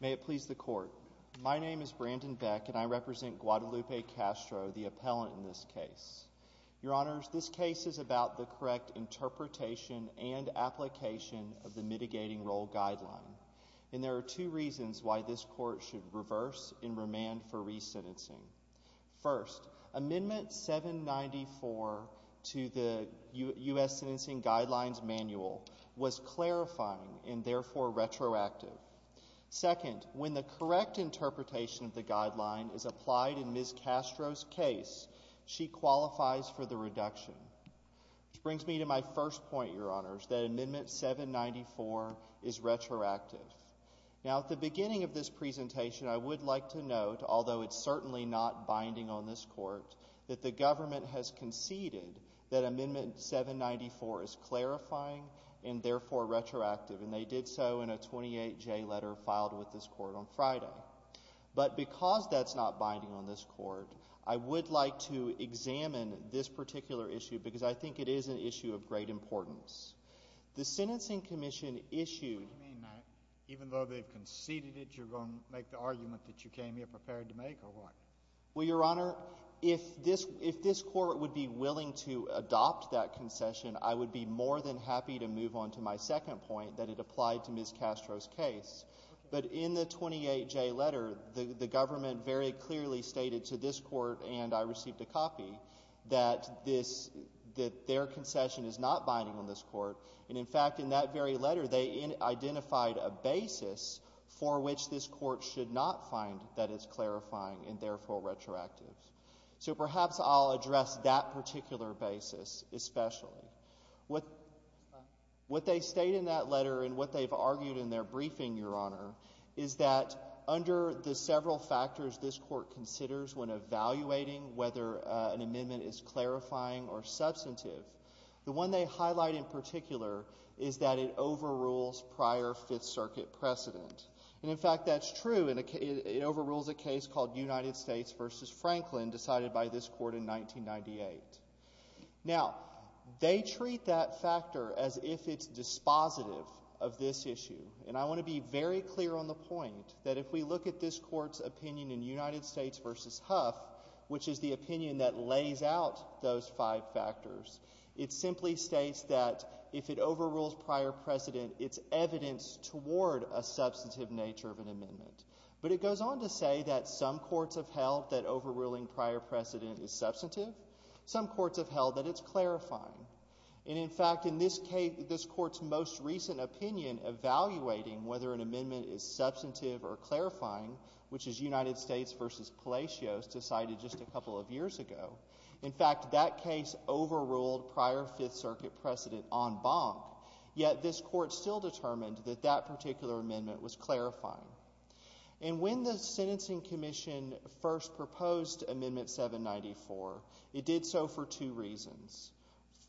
May it please the Court. My name is Brandon Beck, and I represent Guadalupe Castro, the appellant in this case. Your Honors, this case is about the correct interpretation and application of the Mitigating Role Guideline, and there are two reasons why this Court should reverse and remand for resentencing. First, Amendment 794 to the U.S. Sentencing Guidelines Manual was clarifying and therefore retroactive. Second, when the correct interpretation of the guideline is applied in Ms. Castro's case, she qualifies for the reduction. This brings me to my first point, Your Honors, that Amendment 794 is retroactive. Now, at the beginning of this presentation, I would like to note, although it's certainly not binding on this Court, that the government has conceded that Amendment 794 is clarifying and therefore retroactive, and they did so in a 28-J letter filed with this Court on Friday. But because that's not binding on this Court, I would like to examine this particular issue, because I think it is an issue of great importance. The Sentencing Commission issued— What do you mean? Even though they've conceded it, you're going to make the argument that you came here prepared to make, or what? Well, Your Honor, if this Court would be willing to adopt that concession, I would be more than happy to move on to my second point, that it applied to Ms. Castro's case. But in the 28-J letter, the government very clearly stated to this Court, and I received a copy, that their concession is not binding on this Court. And, in fact, in that very letter, they identified a basis for which this Court should not find that it's clarifying and therefore retroactive. So perhaps I'll address that particular basis especially. What they state in that letter and what they've argued in their briefing, Your Honor, is that under the several factors this Court considers when evaluating whether an amendment is clarifying or substantive, the one they highlight in particular is that it overrules prior Fifth Circuit precedent. And, in fact, that's true. It overrules a case called United States v. Franklin decided by this Court in 1998. Now, they treat that factor as if it's dispositive of this issue. And I want to be very clear on the point that if we look at this Court's opinion, United States v. Huff, which is the opinion that lays out those five factors, it simply states that if it overrules prior precedent, it's evidence toward a substantive nature of an amendment. But it goes on to say that some courts have held that overruling prior precedent is substantive. Some courts have held that it's clarifying. And, in fact, in this case, this Court's most recent opinion evaluating whether an amendment is substantive or clarifying, which is United States v. Palacios, decided just a couple of years ago. In fact, that case overruled prior Fifth Circuit precedent en banc, yet this Court still determined that that particular amendment was clarifying. And when the Sentencing Commission first proposed Amendment 794, it did so for two reasons.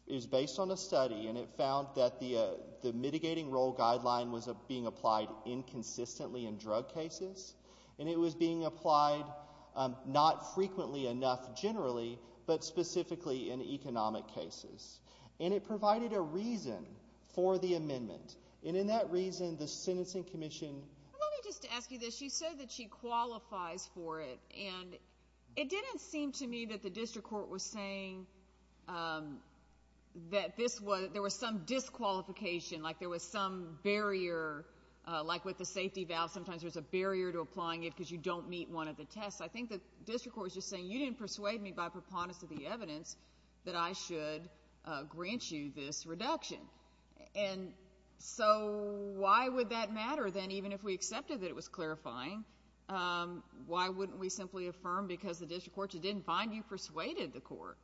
It was based on a study, and it found that the mitigating role guideline was being applied inconsistently in drug cases, and it was being applied not frequently enough generally, but specifically in economic cases. And it provided a reason for the amendment. And in that reason, the Sentencing Commission... Let me just ask you this. You said that she qualifies for it, and it didn't seem to me that the district court was saying that there was some disqualification, like there was some barrier, like with the safety valve, sometimes there's a barrier to applying it because you don't meet one of the tests. I think the district court was just saying, you didn't persuade me by preponderance of the evidence that I should grant you this reduction. And so why would that matter, then, even if we accepted that it was clarifying? Why wouldn't we simply affirm because the district court just didn't find you persuaded the court?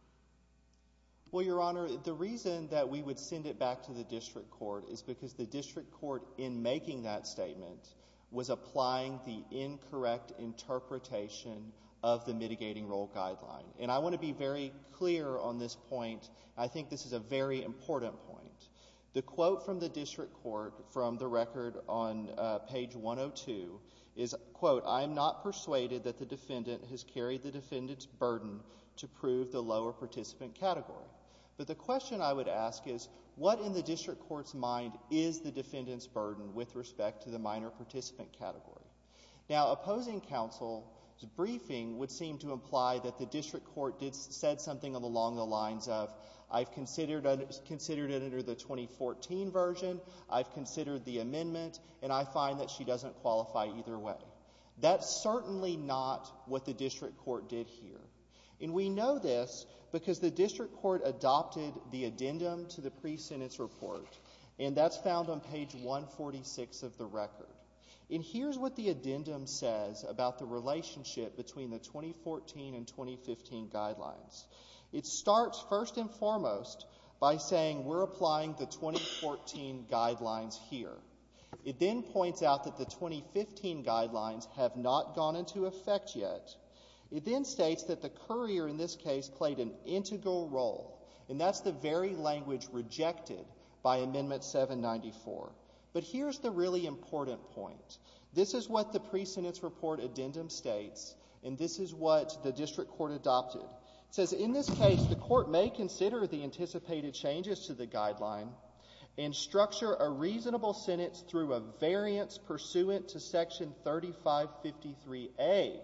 Well, Your Honor, the reason that we would send it back to the district court is because the district court, in making that statement, was applying the incorrect interpretation of the mitigating role guideline. And I want to be very clear on this point. I think this is a very important point. The quote from the district court from the record on page 102 is, quote, I am not persuaded that the defendant has carried the defendant's burden to prove the lower participant category. But the question I would ask is, what in the district court's mind is the defendant's burden with respect to the minor participant category? Now opposing counsel's briefing would seem to imply that the district court did said something along the lines of, I've considered it under the 2014 version, I've considered the amendment, and I find that she doesn't qualify either way. That's certainly not what the district court did here. And we know this because the district court adopted the addendum to the pre-sentence report, and that's found on page 146 of the record. And here's what the addendum says about the relationship between the 2014 and 2015 guidelines. It starts first and foremost by saying we're applying the 2014 guidelines here. It then points out that the 2015 guidelines have not gone into effect yet. It then states that the courier in this case played an integral role, and that's the very language rejected by amendment 794. But here's the really important point. This is what the pre-sentence report addendum states, and this is what the district court adopted. It says in this case the court may consider the anticipated changes to the guideline and structure a reasonable sentence through a variance pursuant to section 3553A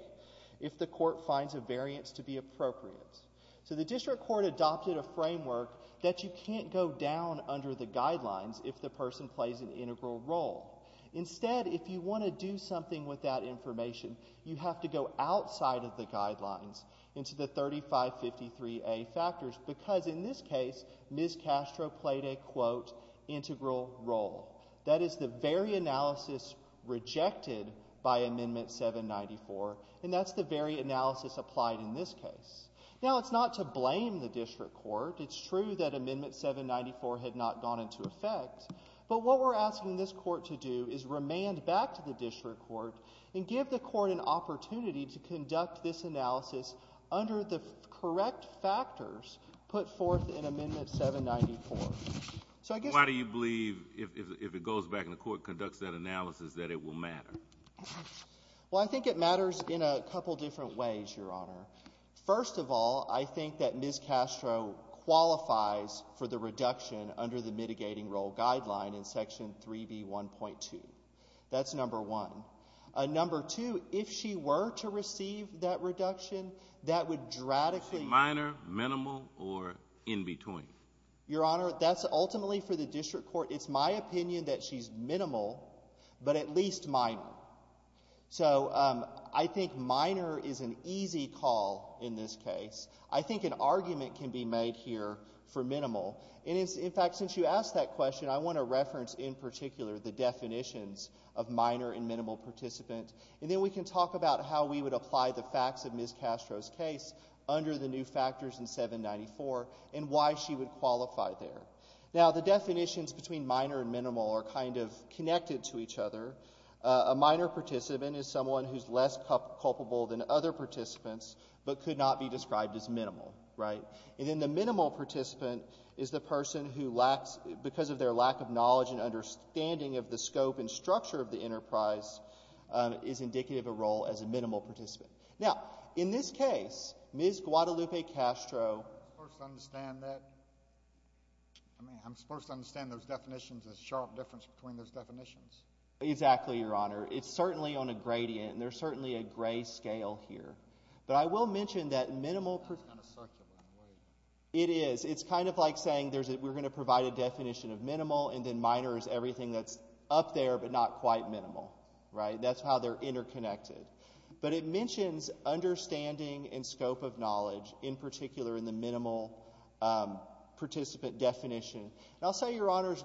if the court finds a variance to be appropriate. So the district court adopted a framework that you can't go down under the guidelines if the person plays an integral role. Instead, if you want to do something with that information, you have to go outside of the guidelines into the 3553A factors, because in this case Ms. Castro played a, quote, integral role. That is the very analysis rejected by amendment 794, and that's the very analysis applied in this case. Now, it's not to blame the district court. It's true that amendment 794 had not gone into effect, but what we're asking this court is an opportunity to conduct this analysis under the correct factors put forth in amendment 794. So I guess... Why do you believe, if it goes back and the court conducts that analysis, that it will matter? Well I think it matters in a couple different ways, Your Honor. First of all, I think that Ms. Castro qualifies for the reduction under the mitigating role guideline in section 3B1.2. That's number one. Number two, if she were to receive that reduction, that would dradically... Is she minor, minimal, or in between? Your Honor, that's ultimately for the district court. It's my opinion that she's minimal, but at least minor. So I think minor is an easy call in this case. I think an argument can be made here for minimal. In fact, since you asked that question, I want to reference in particular the definitions of minor and minimal participant, and then we can talk about how we would apply the facts of Ms. Castro's case under the new factors in 794, and why she would qualify there. Now the definitions between minor and minimal are kind of connected to each other. A minor participant is someone who's less culpable than other participants, but could not be described as minimal, right? And then the minimal participant is the person who, because of their lack of knowledge and understanding of the scope and structure of the enterprise, is indicative of a role as a minimal participant. Now, in this case, Ms. Guadalupe Castro... I'm supposed to understand that? I mean, I'm supposed to understand those definitions, the sharp difference between those definitions. Exactly, Your Honor. It's certainly on a gradient, and there's certainly a gray scale here. But I will mention that minimal... That's kind of circular in a way. It is. It's kind of like saying we're going to provide a definition of minimal, and then minor is everything that's up there, but not quite minimal, right? That's how they're interconnected. But it mentions understanding and scope of knowledge, in particular in the minimal participant definition. And I'll say, Your Honors,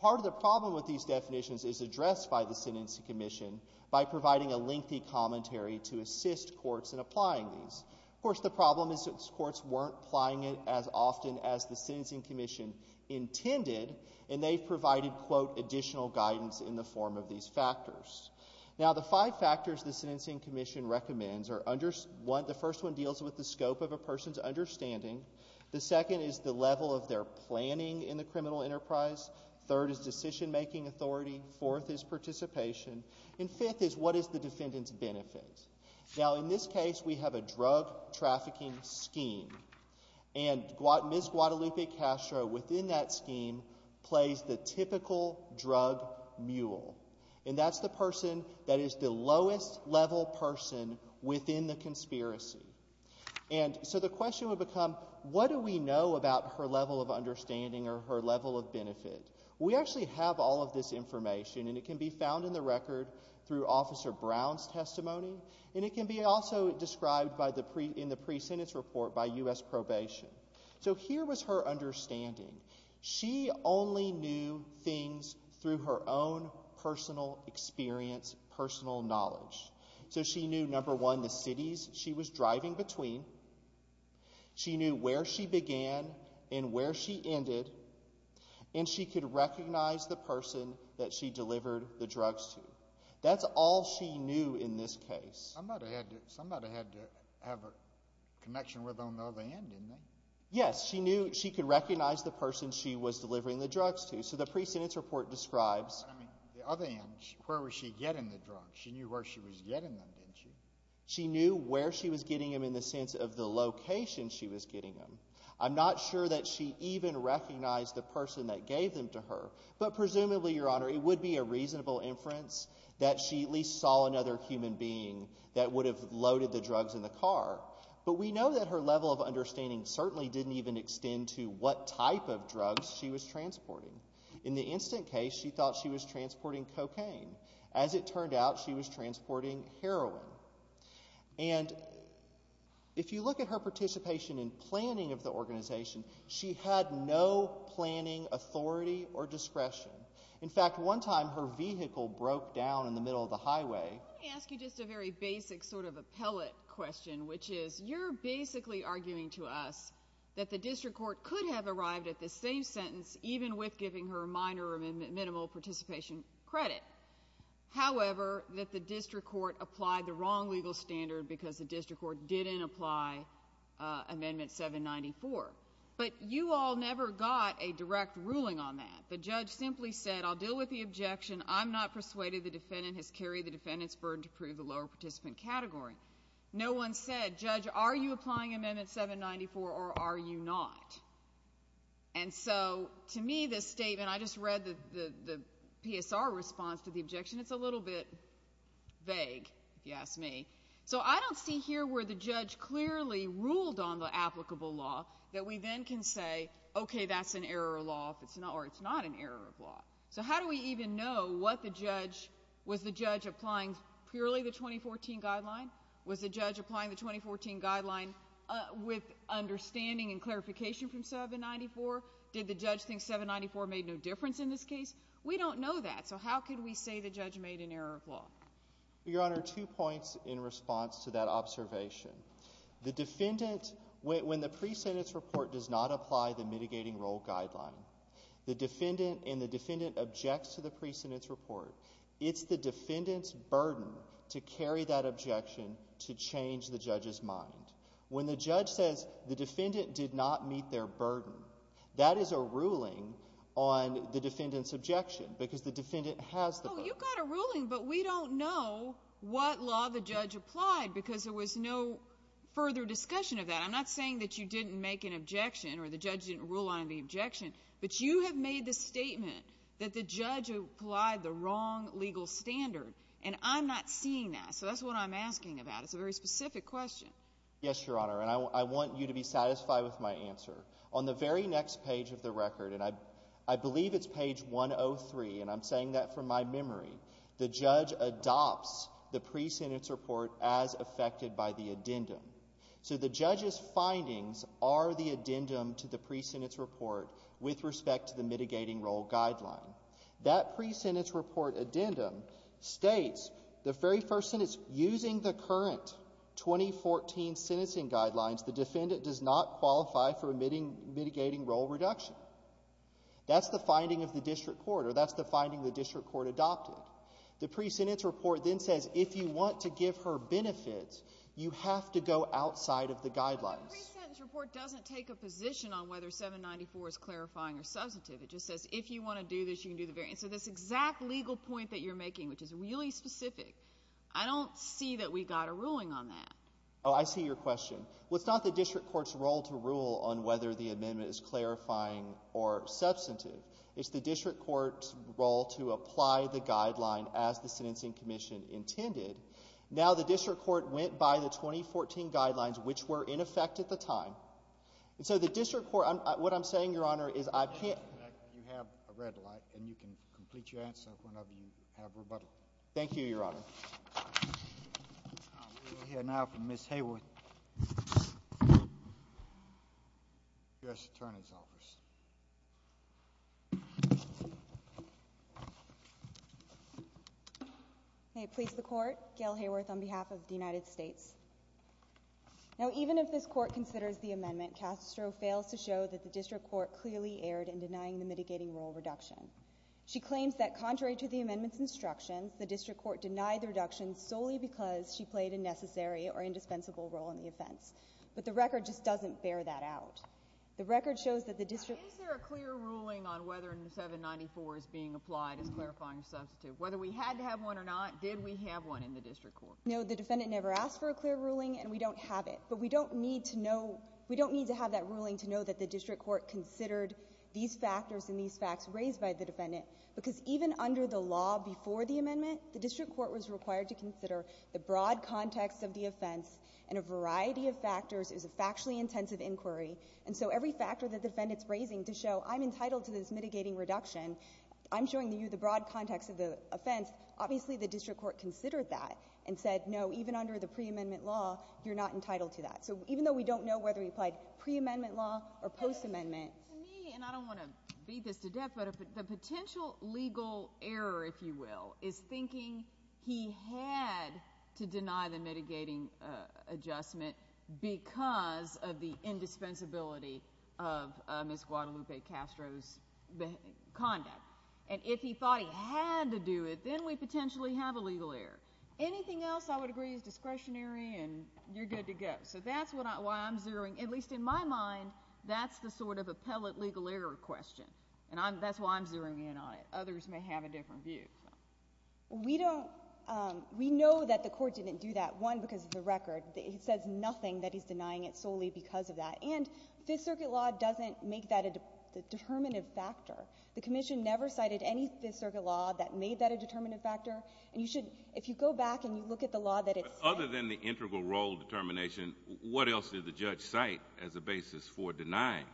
part of the problem with these definitions is addressed by the Sentencing Commission by providing a lengthy commentary to assist courts in applying these. Of course, the problem is that courts weren't applying it as often as the Sentencing Commission intended, and they provided, quote, additional guidance in the form of these factors. Now, the five factors the Sentencing Commission recommends are... The first one deals with the scope of a person's understanding. The second is the level of their planning in the criminal enterprise. Third is decision-making authority. Fourth is participation. And fifth is what is the defendant's benefit. Now, in this case, we have a drug trafficking scheme, and Ms. Guadalupe Castro, within that scheme, plays the typical drug mule. And that's the person that is the lowest-level person within the conspiracy. And so the question would become, What do we know about her level of understanding or her level of benefit? We actually have all of this information, and it can be found in the record through Officer Brown's testimony, and it can be also described in the pre-sentence report by U.S. probation. So here was her understanding. She only knew things through her own personal experience, personal knowledge. So she knew, number one, the cities she was driving between. She knew where she began and where she ended, and she could recognize the person that she delivered the drugs to. That's all she knew in this case. Somebody had to have a connection with them on the other end, didn't they? Yes, she knew she could recognize the person she was delivering the drugs to. So the pre-sentence report describes... I mean, the other end, where was she getting the drugs? She knew where she was getting them, didn't she? She knew where she was getting them in the sense of the location she was getting them. I'm not sure that she even recognized the person that gave them to her, but presumably, Your Honor, it would be a reasonable inference that she at least saw another human being that would have loaded the drugs in the car. But we know that her level of understanding certainly didn't even extend to what type of drugs she was transporting. In the instant case, she thought she was transporting cocaine. As it turned out, she was transporting heroin. And if you look at her participation in planning of the organization, she had no planning authority or discretion. In fact, one time, her vehicle broke down in the middle of the highway... Let me ask you just a very basic sort of appellate question, which is, you're basically arguing to us that the district court could have arrived at the same sentence even with giving her minor or minimal participation credit. However, that the district court applied the wrong legal standard because the district court didn't apply Amendment 794. But you all never got a direct ruling on that. The judge simply said, I'll deal with the objection. I'm not persuaded the defendant has carried the defendant's burden to prove the lower participant category. No one said, Judge, are you applying Amendment 794 or are you not? And so, to me, this statement, and I just read the PSR response to the objection, it's a little bit vague, if you ask me. So I don't see here where the judge clearly ruled on the applicable law that we then can say, okay, that's an error of law or it's not an error of law. So how do we even know what the judge, was the judge applying purely the 2014 guideline? Was the judge applying the 2014 guideline with understanding and clarification from 794? Did the judge think 794 made no difference in this case? We don't know that. So how can we say the judge made an error of law? Your Honor, two points in response to that observation. The defendant, when the pre-sentence report does not apply the mitigating role guideline, the defendant, and the defendant objects to the pre-sentence report, it's the defendant's burden to carry that objection to change the judge's mind. When the judge says the defendant did not meet their burden, that is a ruling on the defendant's objection because the defendant has the burden. Oh, you got a ruling, but we don't know what law the judge applied because there was no further discussion of that. I'm not saying that you didn't make an objection or the judge didn't rule on the objection, but you have made the statement that the judge applied the wrong legal standard, and I'm not seeing that. So that's what I'm asking about. It's a very specific question. Yes, Your Honor, and I want you to be satisfied with my answer. On the very next page of the record, and I believe it's page 103, and I'm saying that from my memory, the judge adopts the pre-sentence report as affected by the addendum. So the judge's findings are the addendum to the pre-sentence report with respect to the mitigating role guideline. That pre-sentence report addendum states the very first sentence, using the current 2014 sentencing guidelines, the defendant does not qualify for mitigating role reduction. That's the finding of the district court, or that's the finding the district court adopted. The pre-sentence report then says if you want to give her benefits, you have to go outside of the guidelines. But the pre-sentence report doesn't take a position on whether 794 is clarifying or substantive. It just says if you want to do this, you can do the variance. So this exact legal point that you're making, which is really specific, I don't see that we got a ruling on that. Oh, I see your question. Well, it's not the district court's role to rule on whether the amendment is clarifying or substantive. It's the district court's role to apply the guideline as the sentencing commission intended. Now the district court went by the 2014 guidelines, which were in effect at the time. And so the district court, what I'm saying, Your Honor, is I can't. You have a red light and you can complete your answer whenever you have rebuttal. Thank you, Your Honor. We'll hear now from Ms. Hayworth, U.S. Attorney's Office. May it please the court, Gail Hayworth, on behalf of the United States. Now even if this court considers the amendment, Castro fails to show that the district court clearly erred in denying the mitigating role reduction. She claims that contrary to the amendment's instructions, the district court denied the reduction solely because she played a necessary or indispensable role in the offense. But the record just doesn't bear that out. The record shows that the district... Now is there a clear ruling on whether 794 is being applied as clarifying or substantive? Whether we had to have one or not, did we have one in the district court? No, the defendant never asked for a clear ruling and we don't have it. But we don't need to know, we don't need to have that ruling to know that the district court considered these factors and these facts raised by the defendant. Because even under the law before the amendment, the district court was required to consider the broad context of the offense and a variety of factors. It was a factually intensive inquiry. And so every factor that the defendant's raising to show I'm entitled to this mitigating reduction, I'm showing you the broad context of the offense, obviously the district court considered that and said no, even under the preamendment law, you're not entitled to that. So even though we don't know whether we applied preamendment law or postamendment... To me, and I don't want to beat this to death, but the potential legal error, if you will, is thinking he had to deny the mitigating adjustment because of the indispensability of Ms. Guadalupe Castro's conduct. And if he thought he had to do it, then we potentially have a legal error. Anything else I would agree is discretionary and you're good to go. So that's why I'm zeroing. At least in my mind, that's the sort of appellate legal error question. And that's why I'm zeroing in on it. Others may have a different view. We know that the court didn't do that, one, because of the record. It says nothing that he's denying it solely because of that. And Fifth Circuit law doesn't make that a determinative factor. The Commission never cited any Fifth Circuit law that made that a determinative factor. And you should, if you go back and you look at the law that it's... Other than the integral role determination, what else did the judge cite as a basis for denying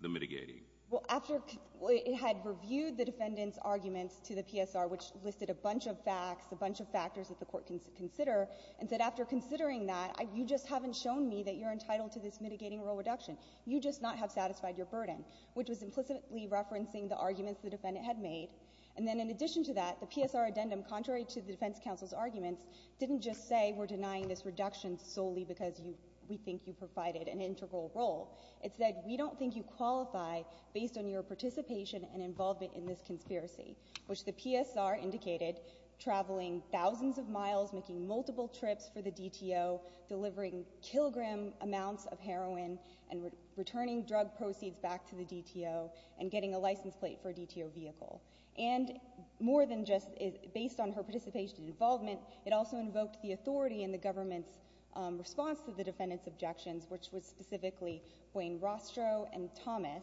the mitigating? Well, after it had reviewed the defendant's arguments to the PSR, which listed a bunch of facts, a bunch of factors that the court can consider, and said, after considering that, you just haven't shown me that you're entitled to this mitigating role reduction. You just not have satisfied your burden, which was implicitly referencing the arguments the defendant had made. And then in addition to that, the PSR addendum, contrary to the Defense Counsel's arguments, didn't just say, we're denying this reduction solely because we think you provided an integral role. It said, we don't think you qualify based on your participation and involvement in this conspiracy, which the PSR indicated, traveling thousands of miles, making multiple trips for the DTO, delivering kilogram amounts of heroin, and returning drug proceeds back to the DTO, and getting a license plate for a DTO vehicle. And more than just based on her participation and involvement, it also invoked the authority in the government's response to the defendant's objections, which was specifically Wayne Rostrow and Thomas,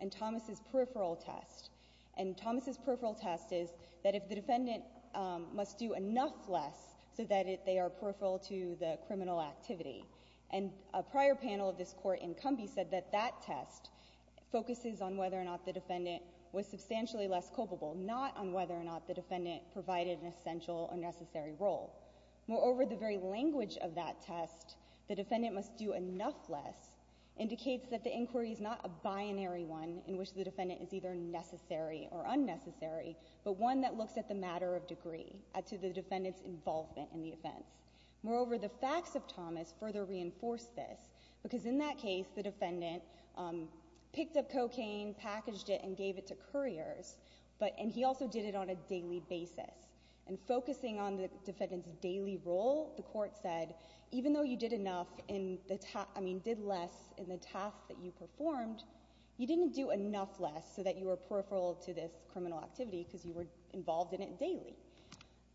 and Thomas' peripheral test. And Thomas' peripheral test is that if the defendant must do enough less so that they are peripheral to the criminal activity. And a prior panel of this court in Cumbie said that that test focuses on whether or not the defendant was culpable, not on whether or not the defendant provided an essential or necessary role. Moreover, the very language of that test, the defendant must do enough less, indicates that the inquiry is not a binary one in which the defendant is either necessary or unnecessary, but one that looks at the matter of degree, to the defendant's involvement in the offense. Moreover, the facts of Thomas further reinforce this, because in that case, the defendant picked up cocaine, packaged it, and gave it to couriers, but, and he also did it on a daily basis. And focusing on the defendant's daily role, the court said, even though you did enough in the, I mean, did less in the task that you performed, you didn't do enough less so that you were peripheral to this criminal activity because you were involved in it daily.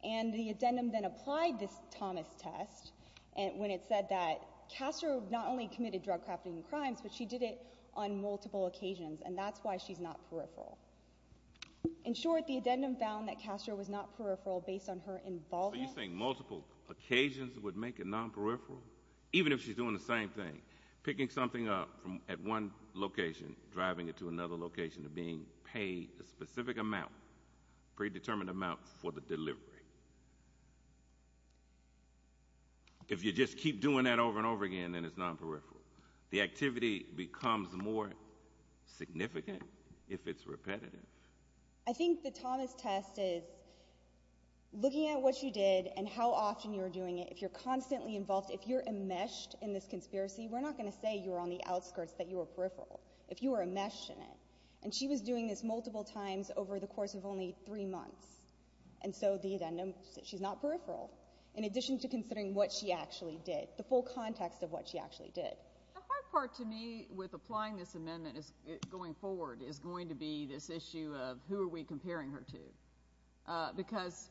And the addendum then applied this Thomas test when it said that Castro not only committed drug-crafting crimes, but she did it on multiple occasions, and that's why she's not peripheral. In short, the addendum found that Castro was not peripheral based on her involvement... So you're saying multiple occasions would make it non-peripheral? Even if she's doing the same thing, picking something up from, at one location, driving it to another location, being paid a specific amount, predetermined amount for the delivery. If you just keep doing that over and over again, then it's non-peripheral. The activity becomes more significant if it's repetitive. I think the Thomas test is looking at what you did and how often you were doing it. If you're constantly involved, if you're enmeshed in this conspiracy, we're not going to say you were on the outskirts, that you were peripheral, if you were enmeshed in it. And she was doing this multiple times over the course of only three months. And so the addendum said she's not peripheral, in addition to considering what she actually did, the full context of what she actually did. The hard part, to me, with applying this amendment going forward is going to be this issue of who are we comparing her to? Because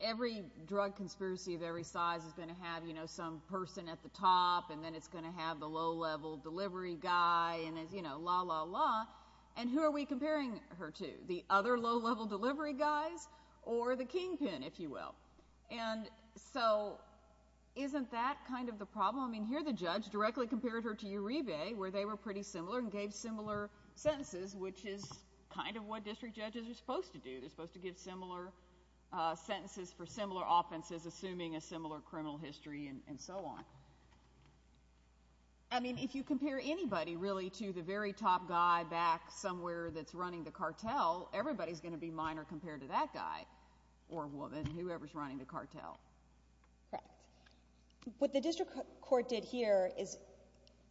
every drug conspiracy of every size is going to have some person at the top, and then it's going to have the low-level delivery guy, and then, you know, la, la, la. And who are we comparing her to? The other low-level delivery guys or the kingpin, if you will. And so isn't that kind of the problem? I mean, here the judge directly compared her to Uribe, where they were pretty similar and gave similar sentences, which is kind of what district judges are supposed to do. They're supposed to give similar sentences for similar offenses, assuming a similar criminal history and so on. I mean, if you compare anybody, really, to the very top guy back somewhere that's running the cartel, everybody's going to be minor compared to that guy or woman, whoever's running the cartel. Correct. What the district court did here is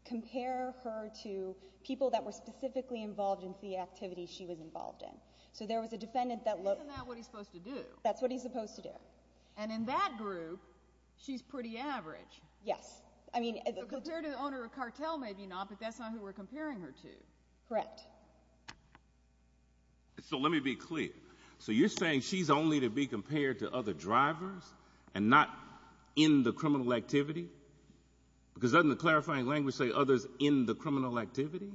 compare her to people that were specifically involved in the activity she was involved in. So there was a defendant that looked— Isn't that what he's supposed to do? That's what he's supposed to do. And in that group, she's pretty average. Yes. I mean— So compared to the owner of a cartel, maybe not, but that's not who we're comparing her to. Correct. So let me be clear. So you're saying she's only to be compared to other drivers and not in the criminal activity? Because doesn't the clarifying language say others in the criminal activity?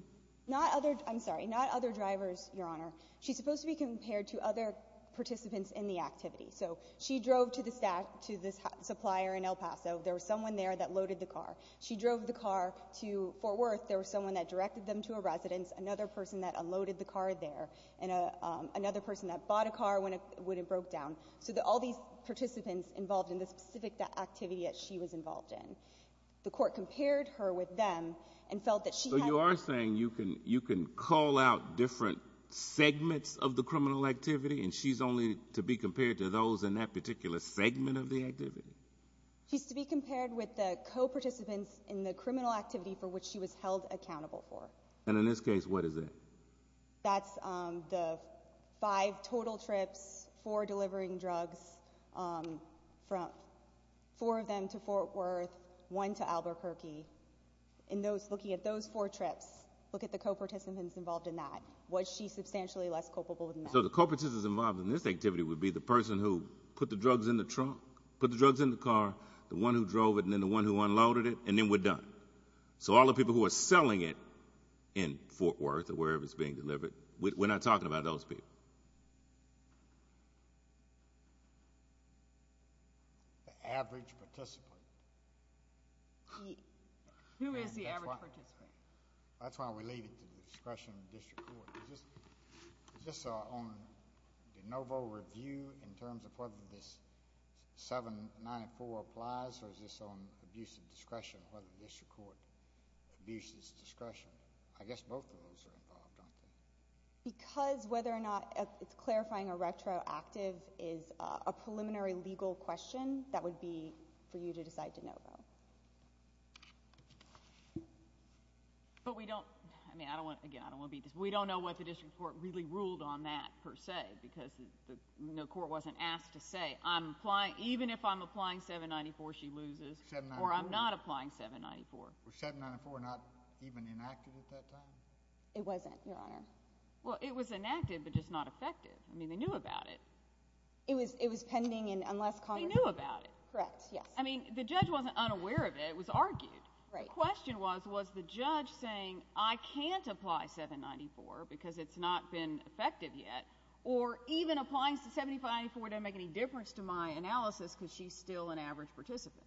Not other—I'm sorry. Not other drivers, Your Honor. She's supposed to be compared to other participants in the activity. So she drove to the supplier in El Paso. There was someone there that loaded the car. She drove the car to Fort Worth. There was someone that directed them to a residence, another person that unloaded the car there, and another person that bought a car when it broke down. So all these participants involved in the specific activity that she was involved in. The court compared her with them and felt that she had— So you are saying you can call out different segments of the criminal activity and she's only to be compared to those in that particular segment of the activity? She's to be compared with the co-participants in the criminal activity for which she was held accountable for. And in this case, what is that? That's the five total trips, four delivering drugs from—four of them to Fort Worth, one to Albuquerque. In those—looking at those four trips, look at the co-participants involved in that. Was she substantially less culpable than that? So the co-participants involved in this activity would be the person who put the drugs in the trunk, put the drugs in the car, the one who drove it, and then the one who unloaded it, and then we're done. So all the people who are selling it in Fort Worth or wherever it's being delivered, we're not talking about those people. The average participant. Who is the average participant? That's why we leave it to discretion of the district court. Is this on de novo review in terms of whether this 794 applies or is this on abuse of discretion of the district court? Because whether or not it's clarifying a retroactive is a preliminary legal question, that would be for you to decide to know, though. But we don't—I mean, I don't want—again, I don't want to beat this—we don't know what the district court really ruled on that, per se, because the court wasn't asked to say, I'm applying—even if I'm applying 794, she loses, or I'm not applying 794. Was 794 not even enacted at that time? It wasn't, Your Honor. Well, it was enacted, but just not effective. I mean, they knew about it. It was pending, and unless Congress— They knew about it. Correct, yes. I mean, the judge wasn't unaware of it. It was argued. Right. The question was, was the judge saying, I can't apply 794 because it's not been effective yet, or even applying 794 doesn't make any difference to my analysis because she's still an average participant.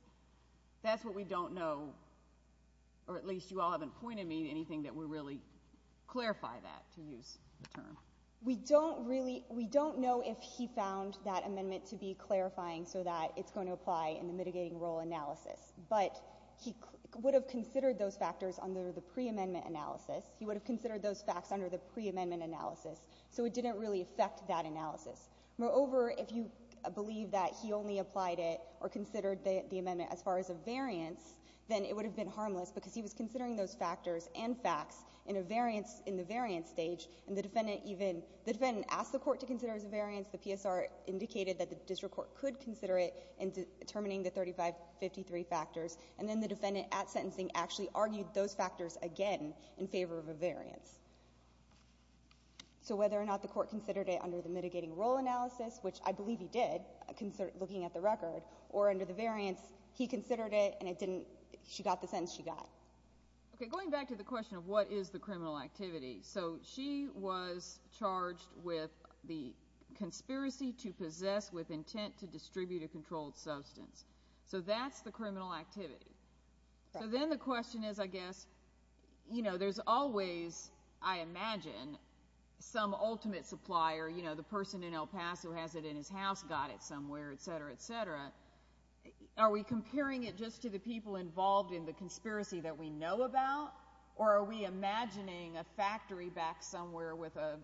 That's what we don't know, or at least you all haven't pointed me to anything that would really clarify that, to use the term. We don't really—we don't know if he found that amendment to be clarifying so that it's going to apply in the mitigating role analysis, but he would have considered those factors under the preamendment analysis. He would have considered those facts under the preamendment analysis, so it didn't really affect that analysis. Moreover, if you believe that he only applied it or considered the amendment as far as a variance, then it would have been harmless because he was considering those factors and facts in a variance, in the variance stage, and the defendant even—the defendant asked the court to consider it as a variance. The PSR indicated that the district court could consider it in determining the 3553 factors, and then the defendant at sentencing actually argued those factors again in favor of a variance. So whether or not the court considered it under the mitigating role analysis, which I believe he did, looking at the record, or under the variance, he considered it and it didn't—she got the sentence she got. Okay, going back to the question of what is the criminal activity, so she was charged with the conspiracy to possess with intent to distribute a controlled substance. So that's the criminal activity. Right. So then the question is, I guess, you know, there's always, I imagine, some ultimate supplier, you know, the person in El Paso has it in his house, got it somewhere, et cetera, et cetera. Are we comparing it just to the people involved in the conspiracy that we know about, or are we imagining a factory back somewhere with a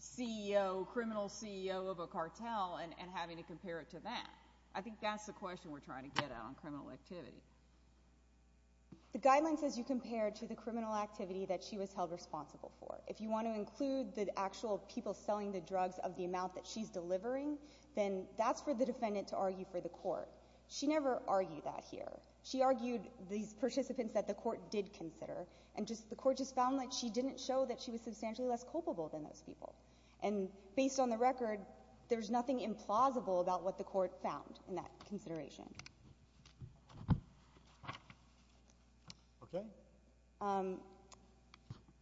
CEO, criminal CEO of a cartel, and having to compare it to that? I think that's the question we're trying to get at on criminal activity. The guideline says you compare it to the criminal activity that she was held responsible for. If you want to include the actual people selling the drugs of the amount that she's delivering, then that's for the defendant to argue for the court. She never argued that here. She argued these participants that the court did consider, and the court just found that she didn't show that she was substantially less culpable than those people. And based on the record, there's nothing implausible about what the court found in that consideration. Okay.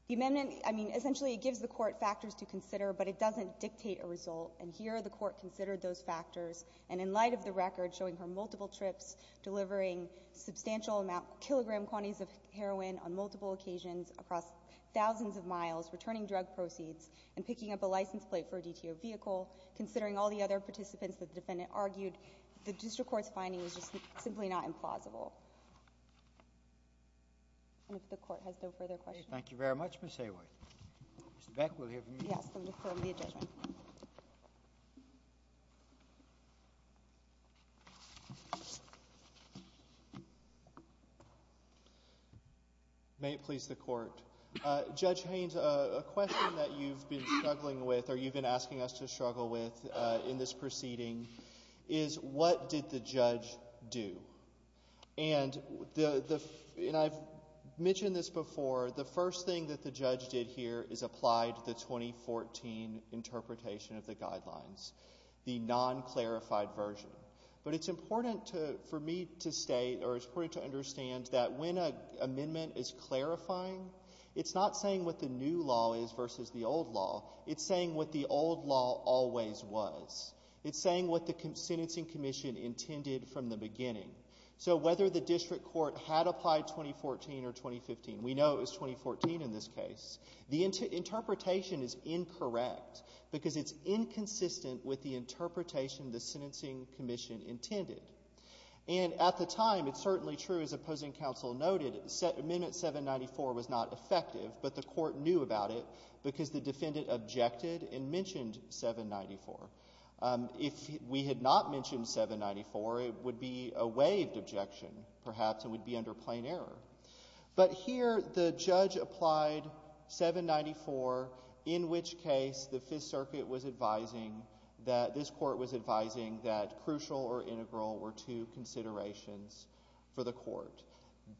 The amendment, I mean, essentially it gives the court factors to consider, but it doesn't dictate a result. And here the court considered those factors, and in light of the record showing her multiple trips, delivering substantial amount, kilogram quantities of heroin on multiple occasions across thousands of miles, returning drug proceeds, and picking up a license plate for a DTO vehicle, considering all the other participants that the defendant argued, the And if the court has no further questions? Thank you very much, Ms. Hayworth. Mr. Beck will hear from you. Yes. I'm going to call the adjudicant. May it please the Court. Judge Haynes, a question that you've been struggling with, or you've been asking us to struggle with in this proceeding, is what did the judge do? And I've mentioned this before, the first thing that the judge did here is applied the 2014 interpretation of the guidelines, the non-clarified version. But it's important for me to state, or it's important to understand that when an amendment is clarifying, it's not saying what the new law is versus the old law. It's saying what the old law always was. It's saying what the sentencing commission intended from the beginning. So whether the district court had applied 2014 or 2015, we know it was 2014 in this case, the interpretation is incorrect, because it's inconsistent with the interpretation the sentencing commission intended. And at the time, it's certainly true, as opposing counsel noted, Amendment 794 was not effective, but the court knew about it because the defendant objected and mentioned 794. If we had not mentioned 794, it would be a waived objection, perhaps, and we'd be under plain error. But here, the judge applied 794, in which case the Fifth Circuit was advising that this court was advising that crucial or integral were two considerations for the court.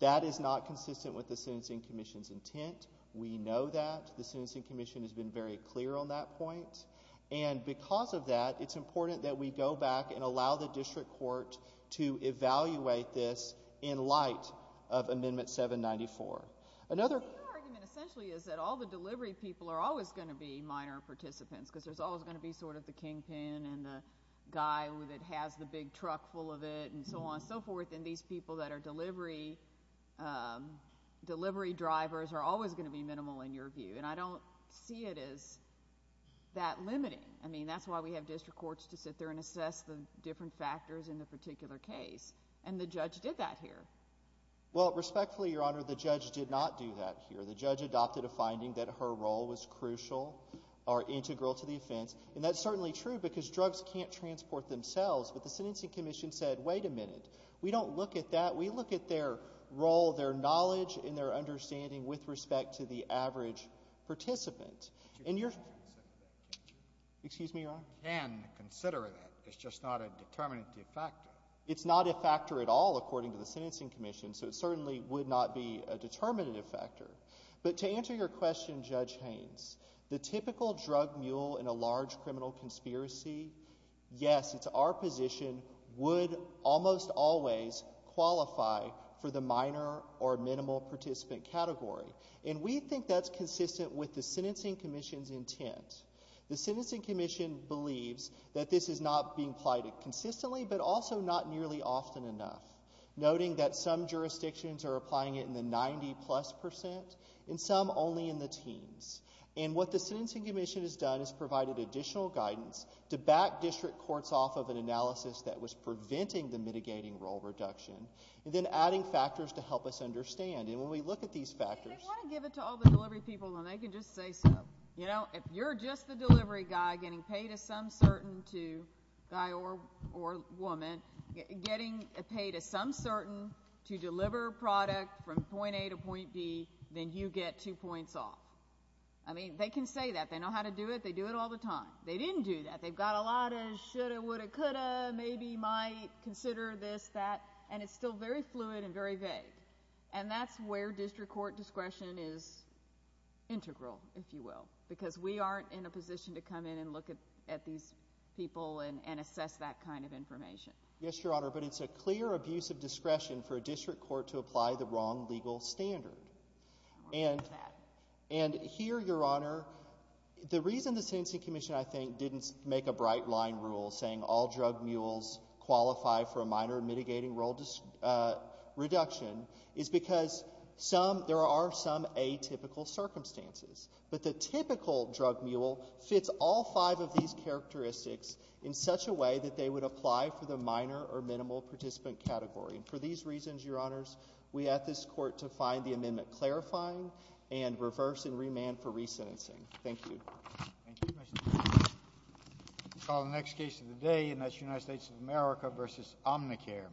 That is not consistent with the sentencing commission's intent. We know that. The sentencing commission has been very clear on that point. And because of that, it's important that we go back and allow the district court to evaluate this in light of Amendment 794. Your argument, essentially, is that all the delivery people are always going to be minor participants, because there's always going to be sort of the kingpin and the guy that has the big truck full of it and so on and so forth. And these people that are delivery drivers are always going to be minimal, in your view. And I don't see it as that limiting. I mean, that's why we have district courts to sit there and assess the different factors in the particular case. And the judge did that here. Well, respectfully, Your Honor, the judge did not do that here. The judge adopted a finding that her role was crucial or integral to the offense. And that's certainly true because drugs can't transport themselves. But the sentencing commission said, wait a minute. We don't look at that. We look at their role, their knowledge, and their understanding with respect to the average participant. You can consider that, can't you? Excuse me, Your Honor? You can consider that. It's just not a determinative factor. It's not a factor at all, according to the sentencing commission. So it certainly would not be a determinative factor. But to answer your question, Judge Haynes, the typical drug mule in a large criminal conspiracy, yes, it's our position, would almost always qualify for the minor or minimal participant category. And we think that's consistent with the sentencing commission's intent. The sentencing commission believes that this is not being applied consistently, but also not nearly often enough, noting that some jurisdictions are applying it in the 90-plus percent and some only in the teens. And what the sentencing commission has done is provided additional guidance to back district courts off of an analysis that was preventing the mitigating role reduction, and then adding factors to help us understand. And when we look at these factors— They want to give it to all the delivery people, and they can just say so. You know, if you're just the delivery guy getting paid to some certain guy or woman, getting paid to some They can say that. They know how to do it. They do it all the time. They didn't do that. They've got a lot of shoulda, woulda, coulda, maybe, might, consider this, that, and it's still very fluid and very vague. And that's where district court discretion is integral, if you will, because we aren't in a position to come in and look at these people and assess that kind of information. Yes, Your Honor, but it's a clear abuse of discretion for a district court to apply the Here, Your Honor, the reason the sentencing commission, I think, didn't make a bright-line rule saying all drug mules qualify for a minor mitigating role reduction is because there are some atypical circumstances. But the typical drug mule fits all five of these characteristics in such a way that they would apply for the minor or minimal participant category. And for these reasons, Your Honors, we ask this court to find the amendment clarifying and reverse and remand for resentencing. Thank you. Thank you, Mr. Chairman. We'll call the next case of the day, and that's United States of America v. Omnicare.